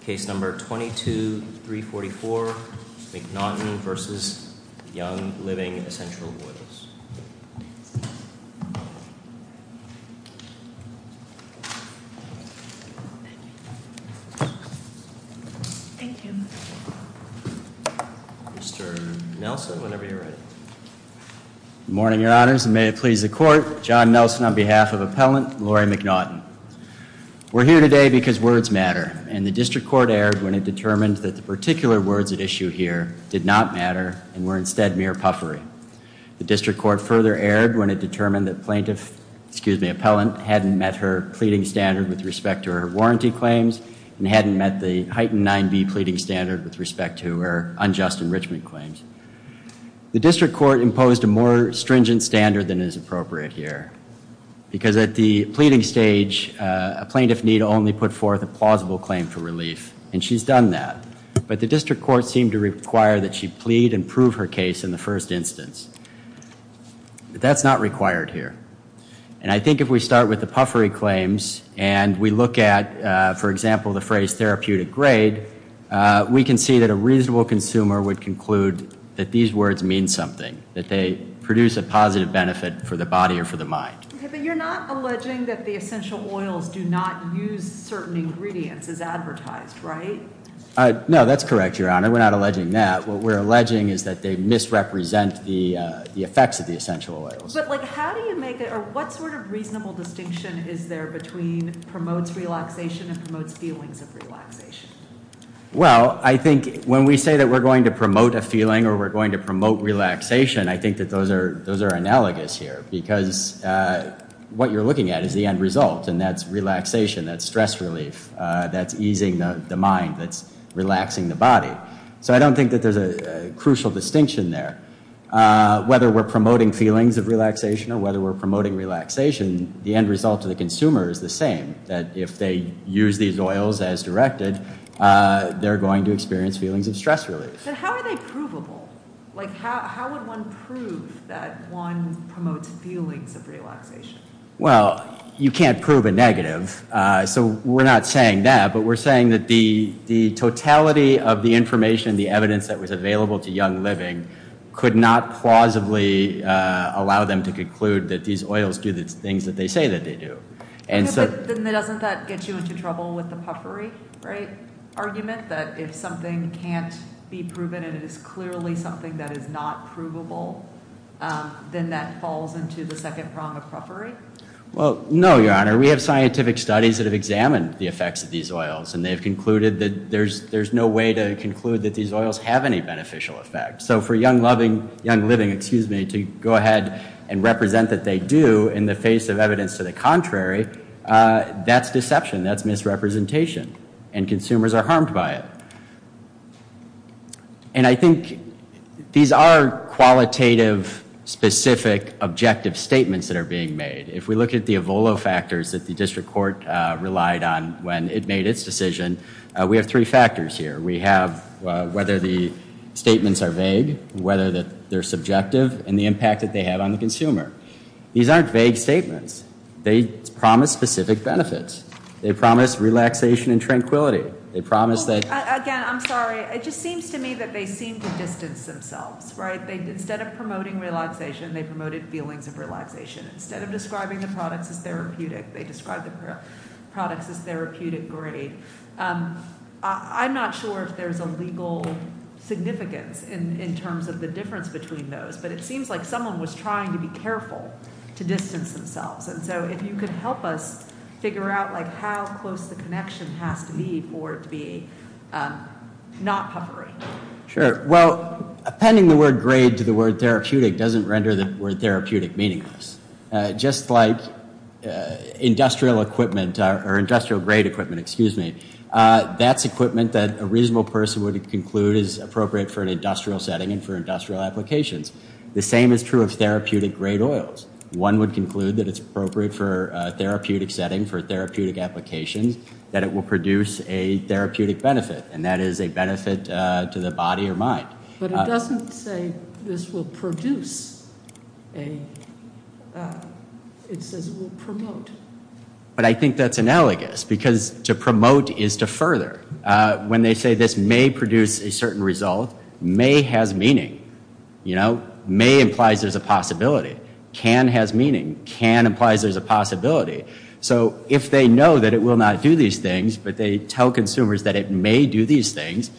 Thank you. Mr. Nelson, whenever you're ready. Good morning, your honors. And may it please the court. John Nelson on behalf of Appellant Laurie McNaughton. We're here today because words matter. And the district court erred when it determined that the particular words at issue here did not matter and were instead mere puffery. The district court further erred when it determined that plaintiff, excuse me, appellant hadn't met her pleading standard with respect to her warranty claims and hadn't met the heightened 9B pleading standard with respect to her unjust enrichment claims. The district court imposed a more stringent standard than is appropriate here. Because at the pleading stage, a plaintiff need only put forth a plausible claim for relief. And she's done that. But the district court seemed to require that she plead and prove her case in the first instance. But that's not required here. And I think if we start with the puffery claims and we look at, for example, the phrase therapeutic grade, we can see that a reasonable consumer would conclude that these words mean something. That they produce a positive benefit for the body or for the mind. But you're not alleging that the essential oils do not use certain ingredients as advertised, right? No, that's correct, Your Honor. We're not alleging that. What we're alleging is that they misrepresent the effects of the essential oils. But like how do you make it or what sort of reasonable distinction is there between promotes relaxation and promotes feelings of relaxation? Well, I think when we say that we're going to promote a feeling or we're going to promote relaxation, I think that those are analogous here. Because what you're looking at is the end result and that's relaxation, that's stress relief, that's easing the mind, that's relaxing the body. So I don't think that there's a crucial distinction there. Whether we're promoting feelings of relaxation or whether we're promoting relaxation, the end result to the consumer is the same. That if they use these oils as directed, they're going to experience feelings of stress relief. But how are they provable? Like how would one prove that one promotes feelings of relaxation? Well, you can't prove a negative. So we're not saying that. But we're saying that the totality of the information, the evidence that was available to young living could not plausibly allow them to conclude that these oils do the things that they say that they do. Then doesn't that get you into trouble with the puffery argument? That if something can't be proven and it is clearly something that is not provable, then that falls into the second prong of puffery? Well, no, Your Honor. We have scientific studies that have examined the effects of these oils. And they've concluded that there's no way to conclude that these oils have any beneficial effect. So for young living to go ahead and represent that they do in the face of evidence to the contrary, that's deception. That's misrepresentation. And consumers are harmed by it. And I think these are qualitative, specific, objective statements that are being made. If we look at the Avolo factors that the district court relied on when it made its decision, we have three factors here. We have whether the statements are vague, whether they're subjective, and the impact that they have on the consumer. These aren't vague statements. They promise specific benefits. They promise relaxation and tranquility. Again, I'm sorry. It just seems to me that they seem to distance themselves, right? Instead of promoting relaxation, they promoted feelings of relaxation. Instead of describing the products as therapeutic, they described the products as therapeutic grade. I'm not sure if there's a legal significance in terms of the difference between those. But it seems like someone was trying to be careful to distance themselves. And so if you could help us figure out how close the connection has to be for it to be not puffery. Sure. Well, appending the word grade to the word therapeutic doesn't render the word therapeutic meaningless. Just like industrial equipment or industrial grade equipment, excuse me, that's equipment that a reasonable person would conclude is appropriate for an industrial setting and for industrial applications. The same is true of therapeutic grade oils. One would conclude that it's appropriate for a therapeutic setting, for therapeutic applications, that it will produce a therapeutic benefit, and that is a benefit to the body or mind. But it doesn't say this will produce. It says it will promote. But I think that's analogous because to promote is to further. When they say this may produce a certain result, may has meaning. May implies there's a possibility. Can has meaning. Can implies there's a possibility. So if they know that it will not do these things, but they tell consumers that it may do these things,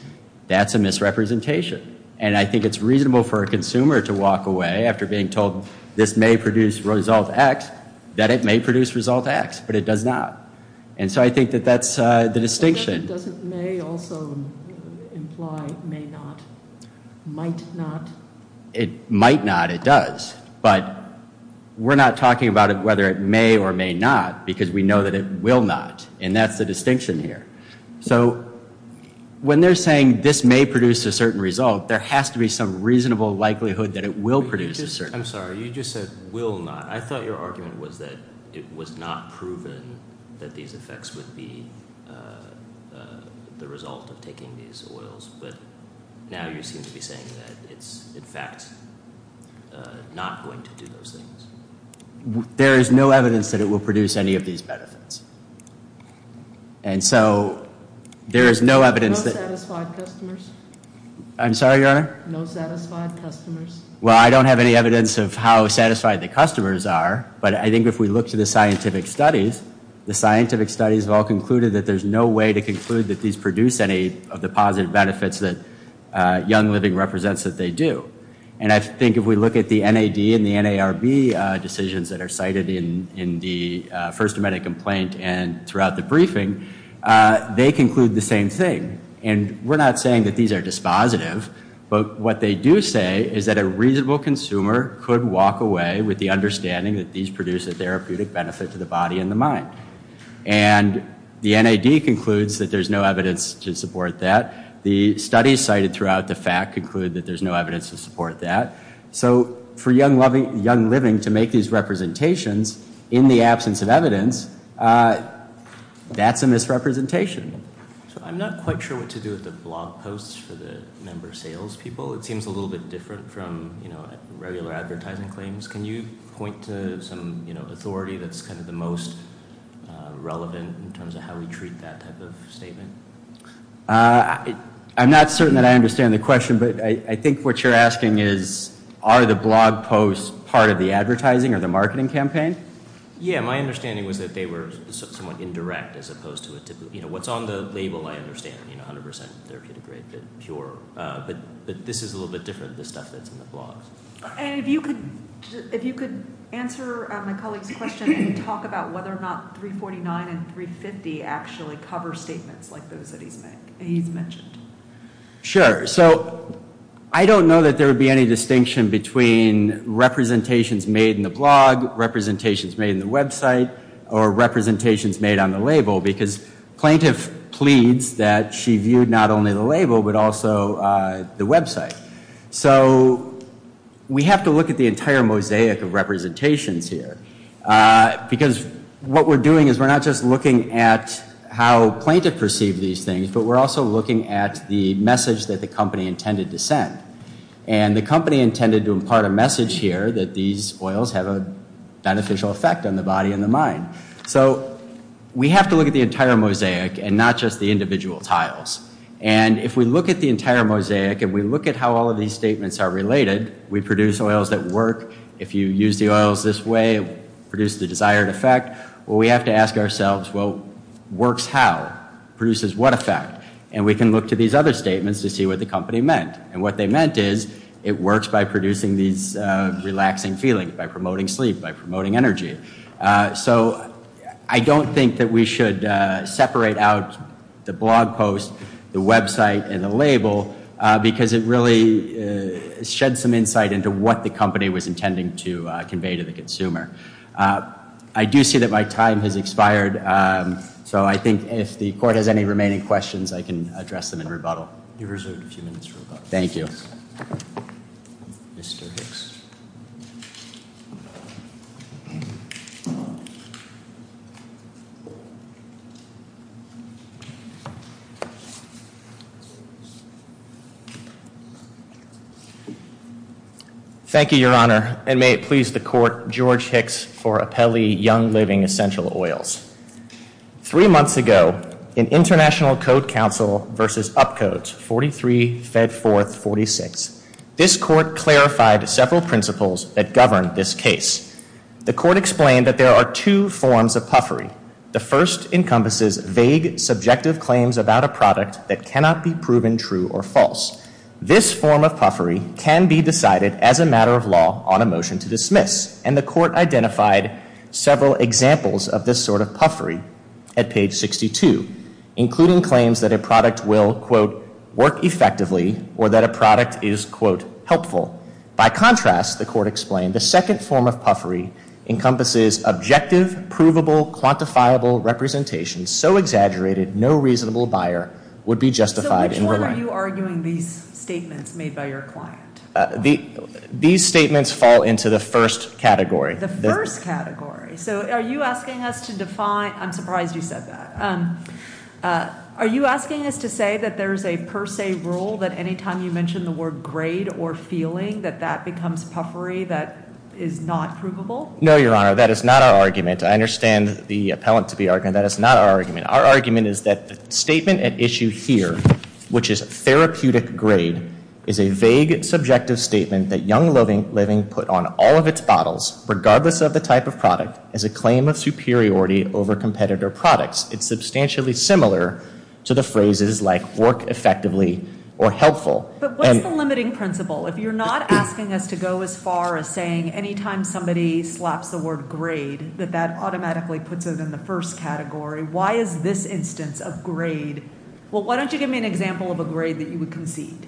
that's a misrepresentation. And I think it's reasonable for a consumer to walk away after being told this may produce result X, that it may produce result X, but it does not. And so I think that that's the distinction. It doesn't may also imply may not. Might not. It might not. It does. But we're not talking about whether it may or may not because we know that it will not. And that's the distinction here. So when they're saying this may produce a certain result, there has to be some reasonable likelihood that it will produce a certain result. I'm sorry. You just said will not. I thought your argument was that it was not proven that these effects would be the result of taking these oils. But now you seem to be saying that it's, in fact, not going to do those things. There is no evidence that it will produce any of these benefits. And so there is no evidence that. No satisfied customers. I'm sorry, Your Honor. No satisfied customers. Well, I don't have any evidence of how satisfied the customers are. But I think if we look to the scientific studies, the scientific studies have all concluded that there's no way to conclude that these produce any of the positive benefits that young living represents that they do. And I think if we look at the NAD and the NARB decisions that are cited in the first amendment complaint and throughout the briefing, they conclude the same thing. And we're not saying that these are dispositive. But what they do say is that a reasonable consumer could walk away with the understanding that these produce a therapeutic benefit to the body and the mind. And the NAD concludes that there's no evidence to support that. The studies cited throughout the fact conclude that there's no evidence to support that. So for young loving young living to make these representations in the absence of evidence, that's a misrepresentation. So I'm not quite sure what to do with the blog posts for the member sales people. It seems a little bit different from, you know, regular advertising claims. Can you point to some authority that's kind of the most relevant in terms of how we treat that type of statement? I'm not certain that I understand the question, but I think what you're asking is, are the blog posts part of the advertising or the marketing campaign? Yeah, my understanding was that they were somewhat indirect as opposed to a typical, you know, what's on the label I understand, you know, 100 percent therapeutic rate, but pure. But this is a little bit different, the stuff that's in the blog. And if you could answer my colleague's question and talk about whether or not 349 and 350 actually cover statements like those that he's mentioned. Sure. So I don't know that there would be any distinction between representations made in the blog, representations made in the website, or representations made on the label, because plaintiff pleads that she viewed not only the label, but also the website. So we have to look at the entire mosaic of representations here, because what we're doing is we're not just looking at how plaintiff perceived these things, but we're also looking at the message that the company intended to send. And the company intended to impart a message here that these oils have a beneficial effect on the body and the mind. So we have to look at the entire mosaic and not just the individual tiles. And if we look at the entire mosaic and we look at how all of these statements are related, we produce oils that work. If you use the oils this way, produce the desired effect. Well, we have to ask ourselves, well, works how? Produces what effect? And we can look to these other statements to see what the company meant. And what they meant is it works by producing these relaxing feelings, by promoting sleep, by promoting energy. So I don't think that we should separate out the blog post, the website, and the label, because it really shed some insight into what the company was intending to convey to the consumer. I do see that my time has expired. So I think if the court has any remaining questions, I can address them in rebuttal. You're reserved a few minutes for rebuttal. Thank you. Mr. Hicks. Thank you, Your Honor. And may it please the court, George Hicks for Appelli Young Living Essential Oils. Three months ago, in International Code Council v. Upcodes, 43, Fed 4th, 46, this court clarified several principles that govern this case. The court explained that there are two forms of puffery. The first encompasses vague, subjective claims about a product that cannot be proven true or false. This form of puffery can be decided as a matter of law on a motion to dismiss. And the court identified several examples of this sort of puffery at page 62, including claims that a product will, quote, work effectively, or that a product is, quote, helpful. By contrast, the court explained, the second form of puffery encompasses objective, provable, quantifiable representations so exaggerated no reasonable buyer would be justified in relying. So which one are you arguing these statements made by your client? These statements fall into the first category. The first category. So are you asking us to define – I'm surprised you said that. Are you asking us to say that there's a per se rule that anytime you mention the word grade or feeling that that becomes puffery that is not provable? No, Your Honor. That is not our argument. I understand the appellant to be arguing that. That is not our argument. Our argument is that the statement at issue here, which is therapeutic grade, is a vague, subjective statement that Young Living put on all of its bottles, regardless of the type of product, as a claim of superiority over competitor products. It's substantially similar to the phrases like work effectively or helpful. But what's the limiting principle? If you're not asking us to go as far as saying anytime somebody slaps the word grade that that automatically puts it in the first category, why is this instance of grade – well, why don't you give me an example of a grade that you would concede?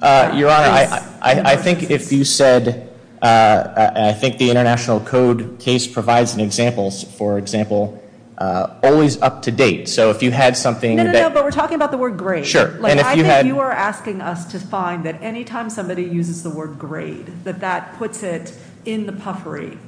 Your Honor, I think if you said – I think the International Code case provides an example. For example, always up to date. So if you had something – No, no, no. But we're talking about the word grade. Sure. I think you are asking us to find that anytime somebody uses the word grade that that puts it in the puffery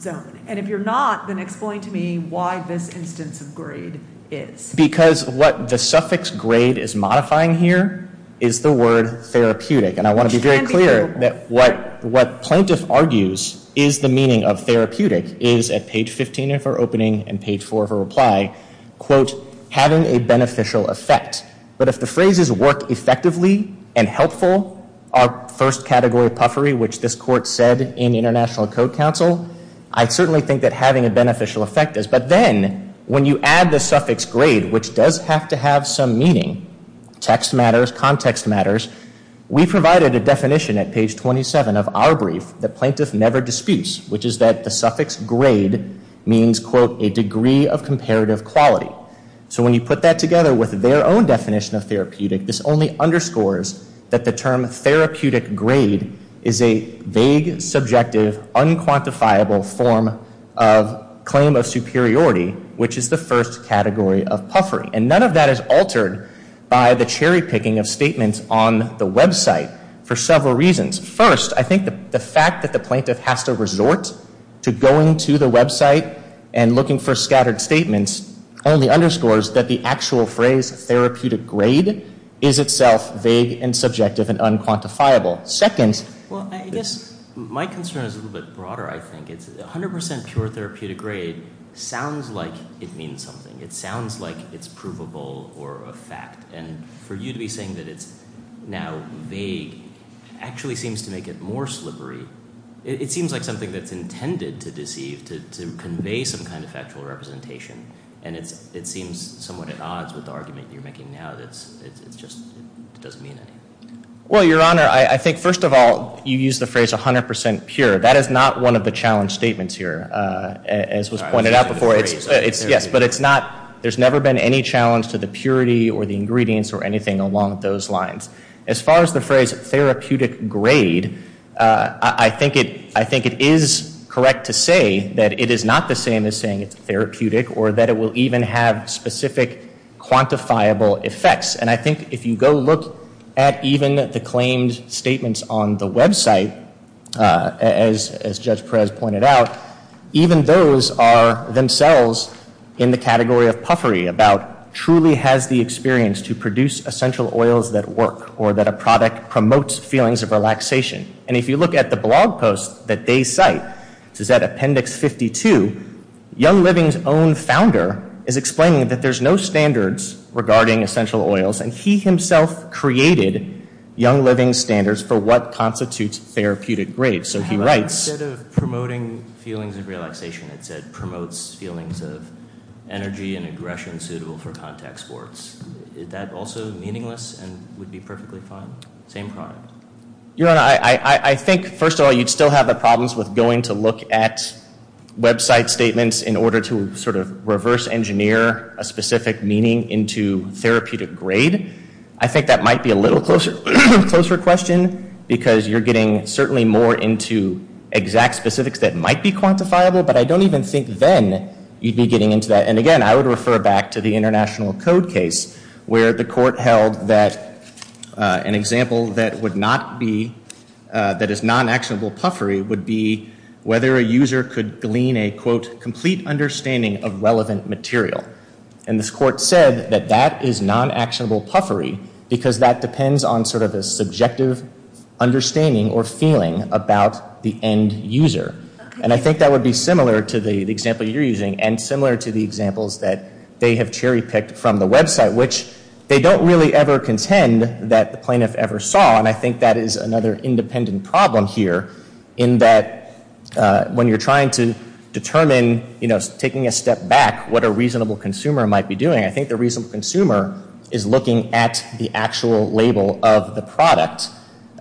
zone. And if you're not, then explain to me why this instance of grade is. Because what the suffix grade is modifying here is the word therapeutic. And I want to be very clear that what plaintiff argues is the meaning of therapeutic is at page 15 of her opening and page 4 of her reply, quote, having a beneficial effect. But if the phrases work effectively and helpful are first category puffery, which this court said in International Code counsel, I certainly think that having a beneficial effect is. But then when you add the suffix grade, which does have to have some meaning, text matters, context matters. We provided a definition at page 27 of our brief that plaintiff never disputes, which is that the suffix grade means, quote, a degree of comparative quality. So when you put that together with their own definition of therapeutic, this only underscores that the term therapeutic grade is a vague, subjective, unquantifiable form of claim of superiority, which is the first category of puffery. And none of that is altered by the cherry picking of statements on the website for several reasons. First, I think the fact that the plaintiff has to resort to going to the website and looking for scattered statements only underscores that the actual phrase therapeutic grade is itself vague and subjective and unquantifiable. Well, I guess my concern is a little bit broader, I think. It's 100% pure therapeutic grade sounds like it means something. It sounds like it's provable or a fact. And for you to be saying that it's now vague actually seems to make it more slippery. It seems like something that's intended to deceive, to convey some kind of factual representation. And it seems somewhat at odds with the argument you're making now that it just doesn't mean anything. Well, Your Honor, I think first of all, you use the phrase 100% pure. That is not one of the challenge statements here, as was pointed out before. Yes, but it's not. There's never been any challenge to the purity or the ingredients or anything along those lines. As far as the phrase therapeutic grade, I think it is correct to say that it is not the same as saying it's therapeutic or that it will even have specific quantifiable effects. And I think if you go look at even the claimed statements on the website, as Judge Perez pointed out, even those are themselves in the category of puffery about truly has the experience to produce essential oils that work or that a product promotes feelings of relaxation. And if you look at the blog post that they cite, which is at Appendix 52, Young Living's own founder is explaining that there's no standards regarding essential oils. And he himself created Young Living's standards for what constitutes therapeutic grades. So he writes... Instead of promoting feelings of relaxation, it said promotes feelings of energy and aggression suitable for contact sports. Is that also meaningless and would be perfectly fine? Same product. Your Honor, I think, first of all, you'd still have the problems with going to look at website statements in order to sort of reverse engineer a specific meaning into therapeutic grade. I think that might be a little closer question because you're getting certainly more into exact specifics that might be quantifiable. But I don't even think then you'd be getting into that. And again, I would refer back to the International Code case where the court held that an example that would not be, that is non-actionable puffery would be whether a user could glean a, quote, complete understanding of relevant material. And this court said that that is non-actionable puffery because that depends on sort of a subjective understanding or feeling about the end user. And I think that would be similar to the example you're using and similar to the examples that they have cherry-picked from the website, which they don't really ever contend that the plaintiff ever saw. And I think that is another independent problem here in that when you're trying to determine, you know, taking a step back, what a reasonable consumer might be doing, I think the reasonable consumer is looking at the actual label of the product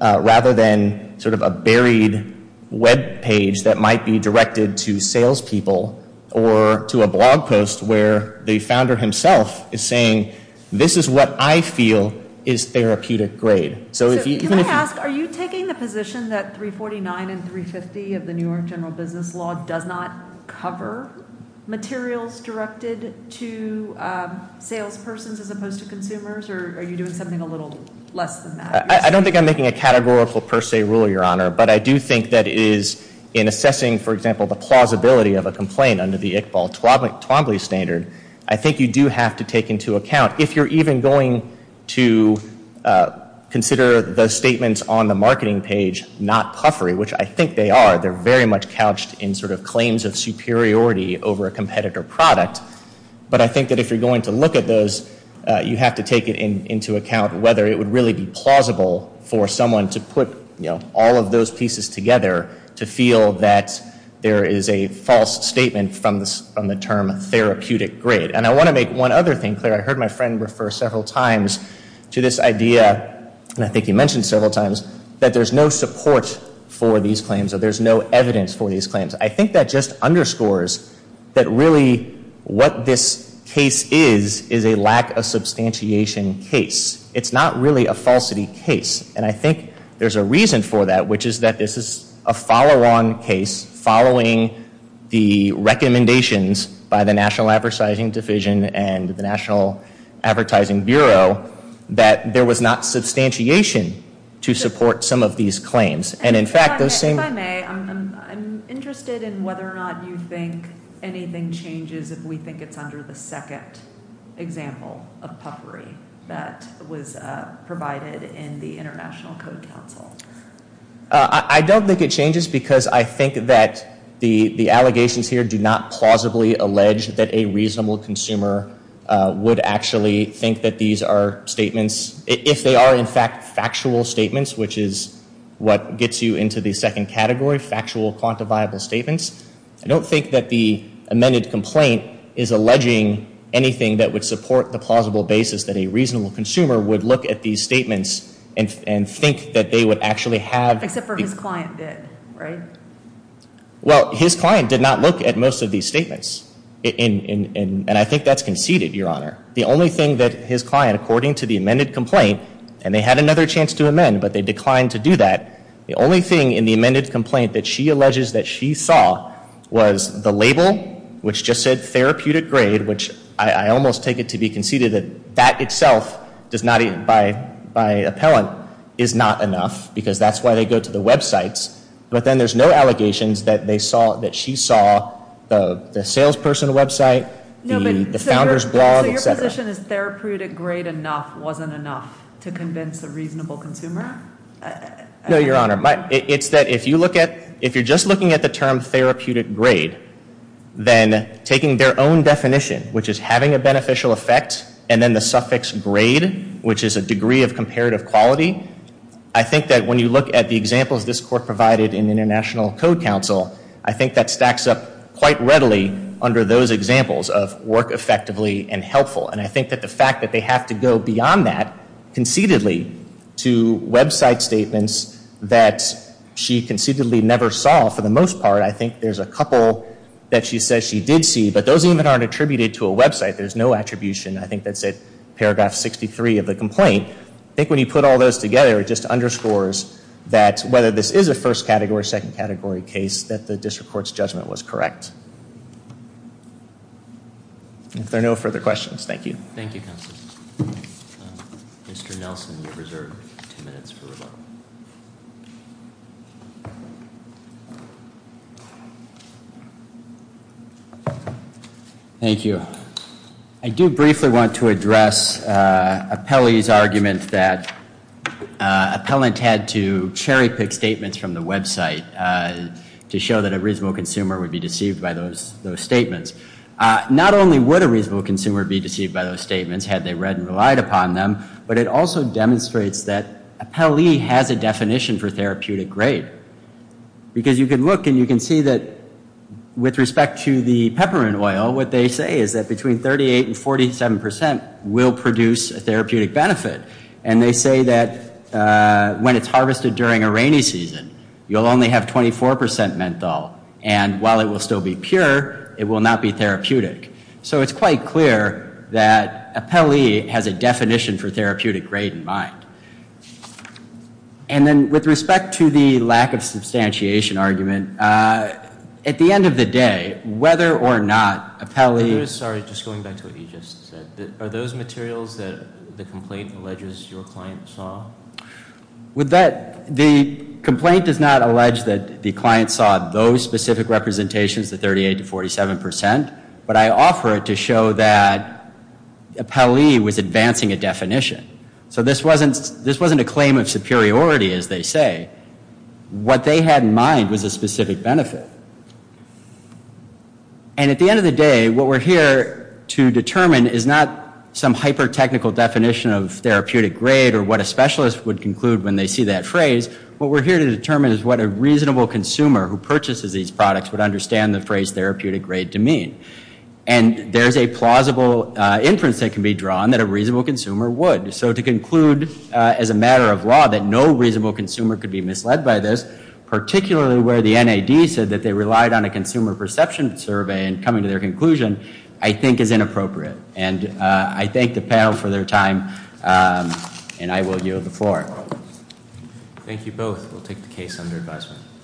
rather than sort of a buried web page that might be directed to salespeople or to a blog post where the founder himself is saying, this is what I feel is therapeutic grade. So if you can. Can I ask, are you taking the position that 349 and 350 of the New York general business law does not cover materials directed to salespersons as opposed to consumers? Or are you doing something a little less than that? I don't think I'm making a categorical per se rule, Your Honor. But I do think that it is in assessing, for example, the plausibility of a complaint under the Iqbal Twombly standard, I think you do have to take into account if you're even going to consider the statements on the marketing page not puffery, which I think they are. They're very much couched in sort of claims of superiority over a competitor product. But I think that if you're going to look at those, you have to take it into account whether it would really be plausible for someone to put all of those pieces together to feel that there is a false statement from the term therapeutic grade. And I want to make one other thing clear. I heard my friend refer several times to this idea, and I think he mentioned several times, that there's no support for these claims or there's no evidence for these claims. I think that just underscores that really what this case is is a lack of substantiation case. It's not really a falsity case. And I think there's a reason for that, which is that this is a follow-on case following the recommendations by the National Advertising Division and the National Advertising Bureau that there was not substantiation to support some of these claims. And, in fact, those same— If I may, I'm interested in whether or not you think anything changes if we think it's under the second example of puffery that was provided in the International Code Council. I don't think it changes because I think that the allegations here do not plausibly allege that a reasonable consumer would actually think that these are statements, if they are, in fact, factual statements, which is what gets you into the second category, factual quantifiable statements. I don't think that the amended complaint is alleging anything that would support the plausible basis that a reasonable consumer would look at these statements and think that they would actually have— Except for his client did, right? Well, his client did not look at most of these statements, and I think that's conceded, Your Honor. The only thing that his client, according to the amended complaint— and they had another chance to amend, but they declined to do that— the only thing in the amended complaint that she alleges that she saw was the label, which just said therapeutic grade, which I almost take it to be conceded that that itself, by appellant, is not enough because that's why they go to the websites. But then there's no allegations that she saw the salesperson website, the founder's blog, et cetera. So your position is therapeutic grade enough wasn't enough to convince a reasonable consumer? No, Your Honor. It's that if you're just looking at the term therapeutic grade, then taking their own definition, which is having a beneficial effect, and then the suffix grade, which is a degree of comparative quality, I think that when you look at the examples this Court provided in International Code Counsel, I think that stacks up quite readily under those examples of work effectively and helpful. And I think that the fact that they have to go beyond that conceitedly to website statements that she conceitedly never saw for the most part, I think there's a couple that she says she did see, but those even aren't attributed to a website. There's no attribution. I think that's at paragraph 63 of the complaint. I think when you put all those together, it just underscores that whether this is a first category, second category case, that the District Court's judgment was correct. Yes. If there are no further questions, thank you. Thank you, Counsel. Mr. Nelson, you're reserved two minutes for rebuttal. Thank you. I do briefly want to address Appellee's argument that Appellant had to cherry pick statements from the website to show that a reasonable consumer would be deceived by those statements. Not only would a reasonable consumer be deceived by those statements had they read and relied upon them, but it also demonstrates that Appellee has a definition for therapeutic grade. Because you can look and you can see that with respect to the peppermint oil, what they say is that between 38 and 47 percent will produce a therapeutic benefit. And they say that when it's harvested during a rainy season, you'll only have 24 percent menthol. And while it will still be pure, it will not be therapeutic. So it's quite clear that Appellee has a definition for therapeutic grade in mind. And then with respect to the lack of substantiation argument, at the end of the day, whether or not Appellee Sorry, just going back to what you just said. Are those materials that the complaint alleges your client saw? The complaint does not allege that the client saw those specific representations, the 38 to 47 percent, but I offer it to show that Appellee was advancing a definition. So this wasn't a claim of superiority, as they say. What they had in mind was a specific benefit. And at the end of the day, what we're here to determine is not some hyper-technical definition of therapeutic grade or what a specialist would conclude when they see that phrase. What we're here to determine is what a reasonable consumer who purchases these products would understand the phrase therapeutic grade to mean. And there's a plausible inference that can be drawn that a reasonable consumer would. So to conclude, as a matter of law, that no reasonable consumer could be misled by this, particularly where the NAD said that they relied on a consumer perception survey in coming to their conclusion, I think is inappropriate. And I thank the panel for their time. And I will yield the floor. Thank you both. We'll take the case under advisement.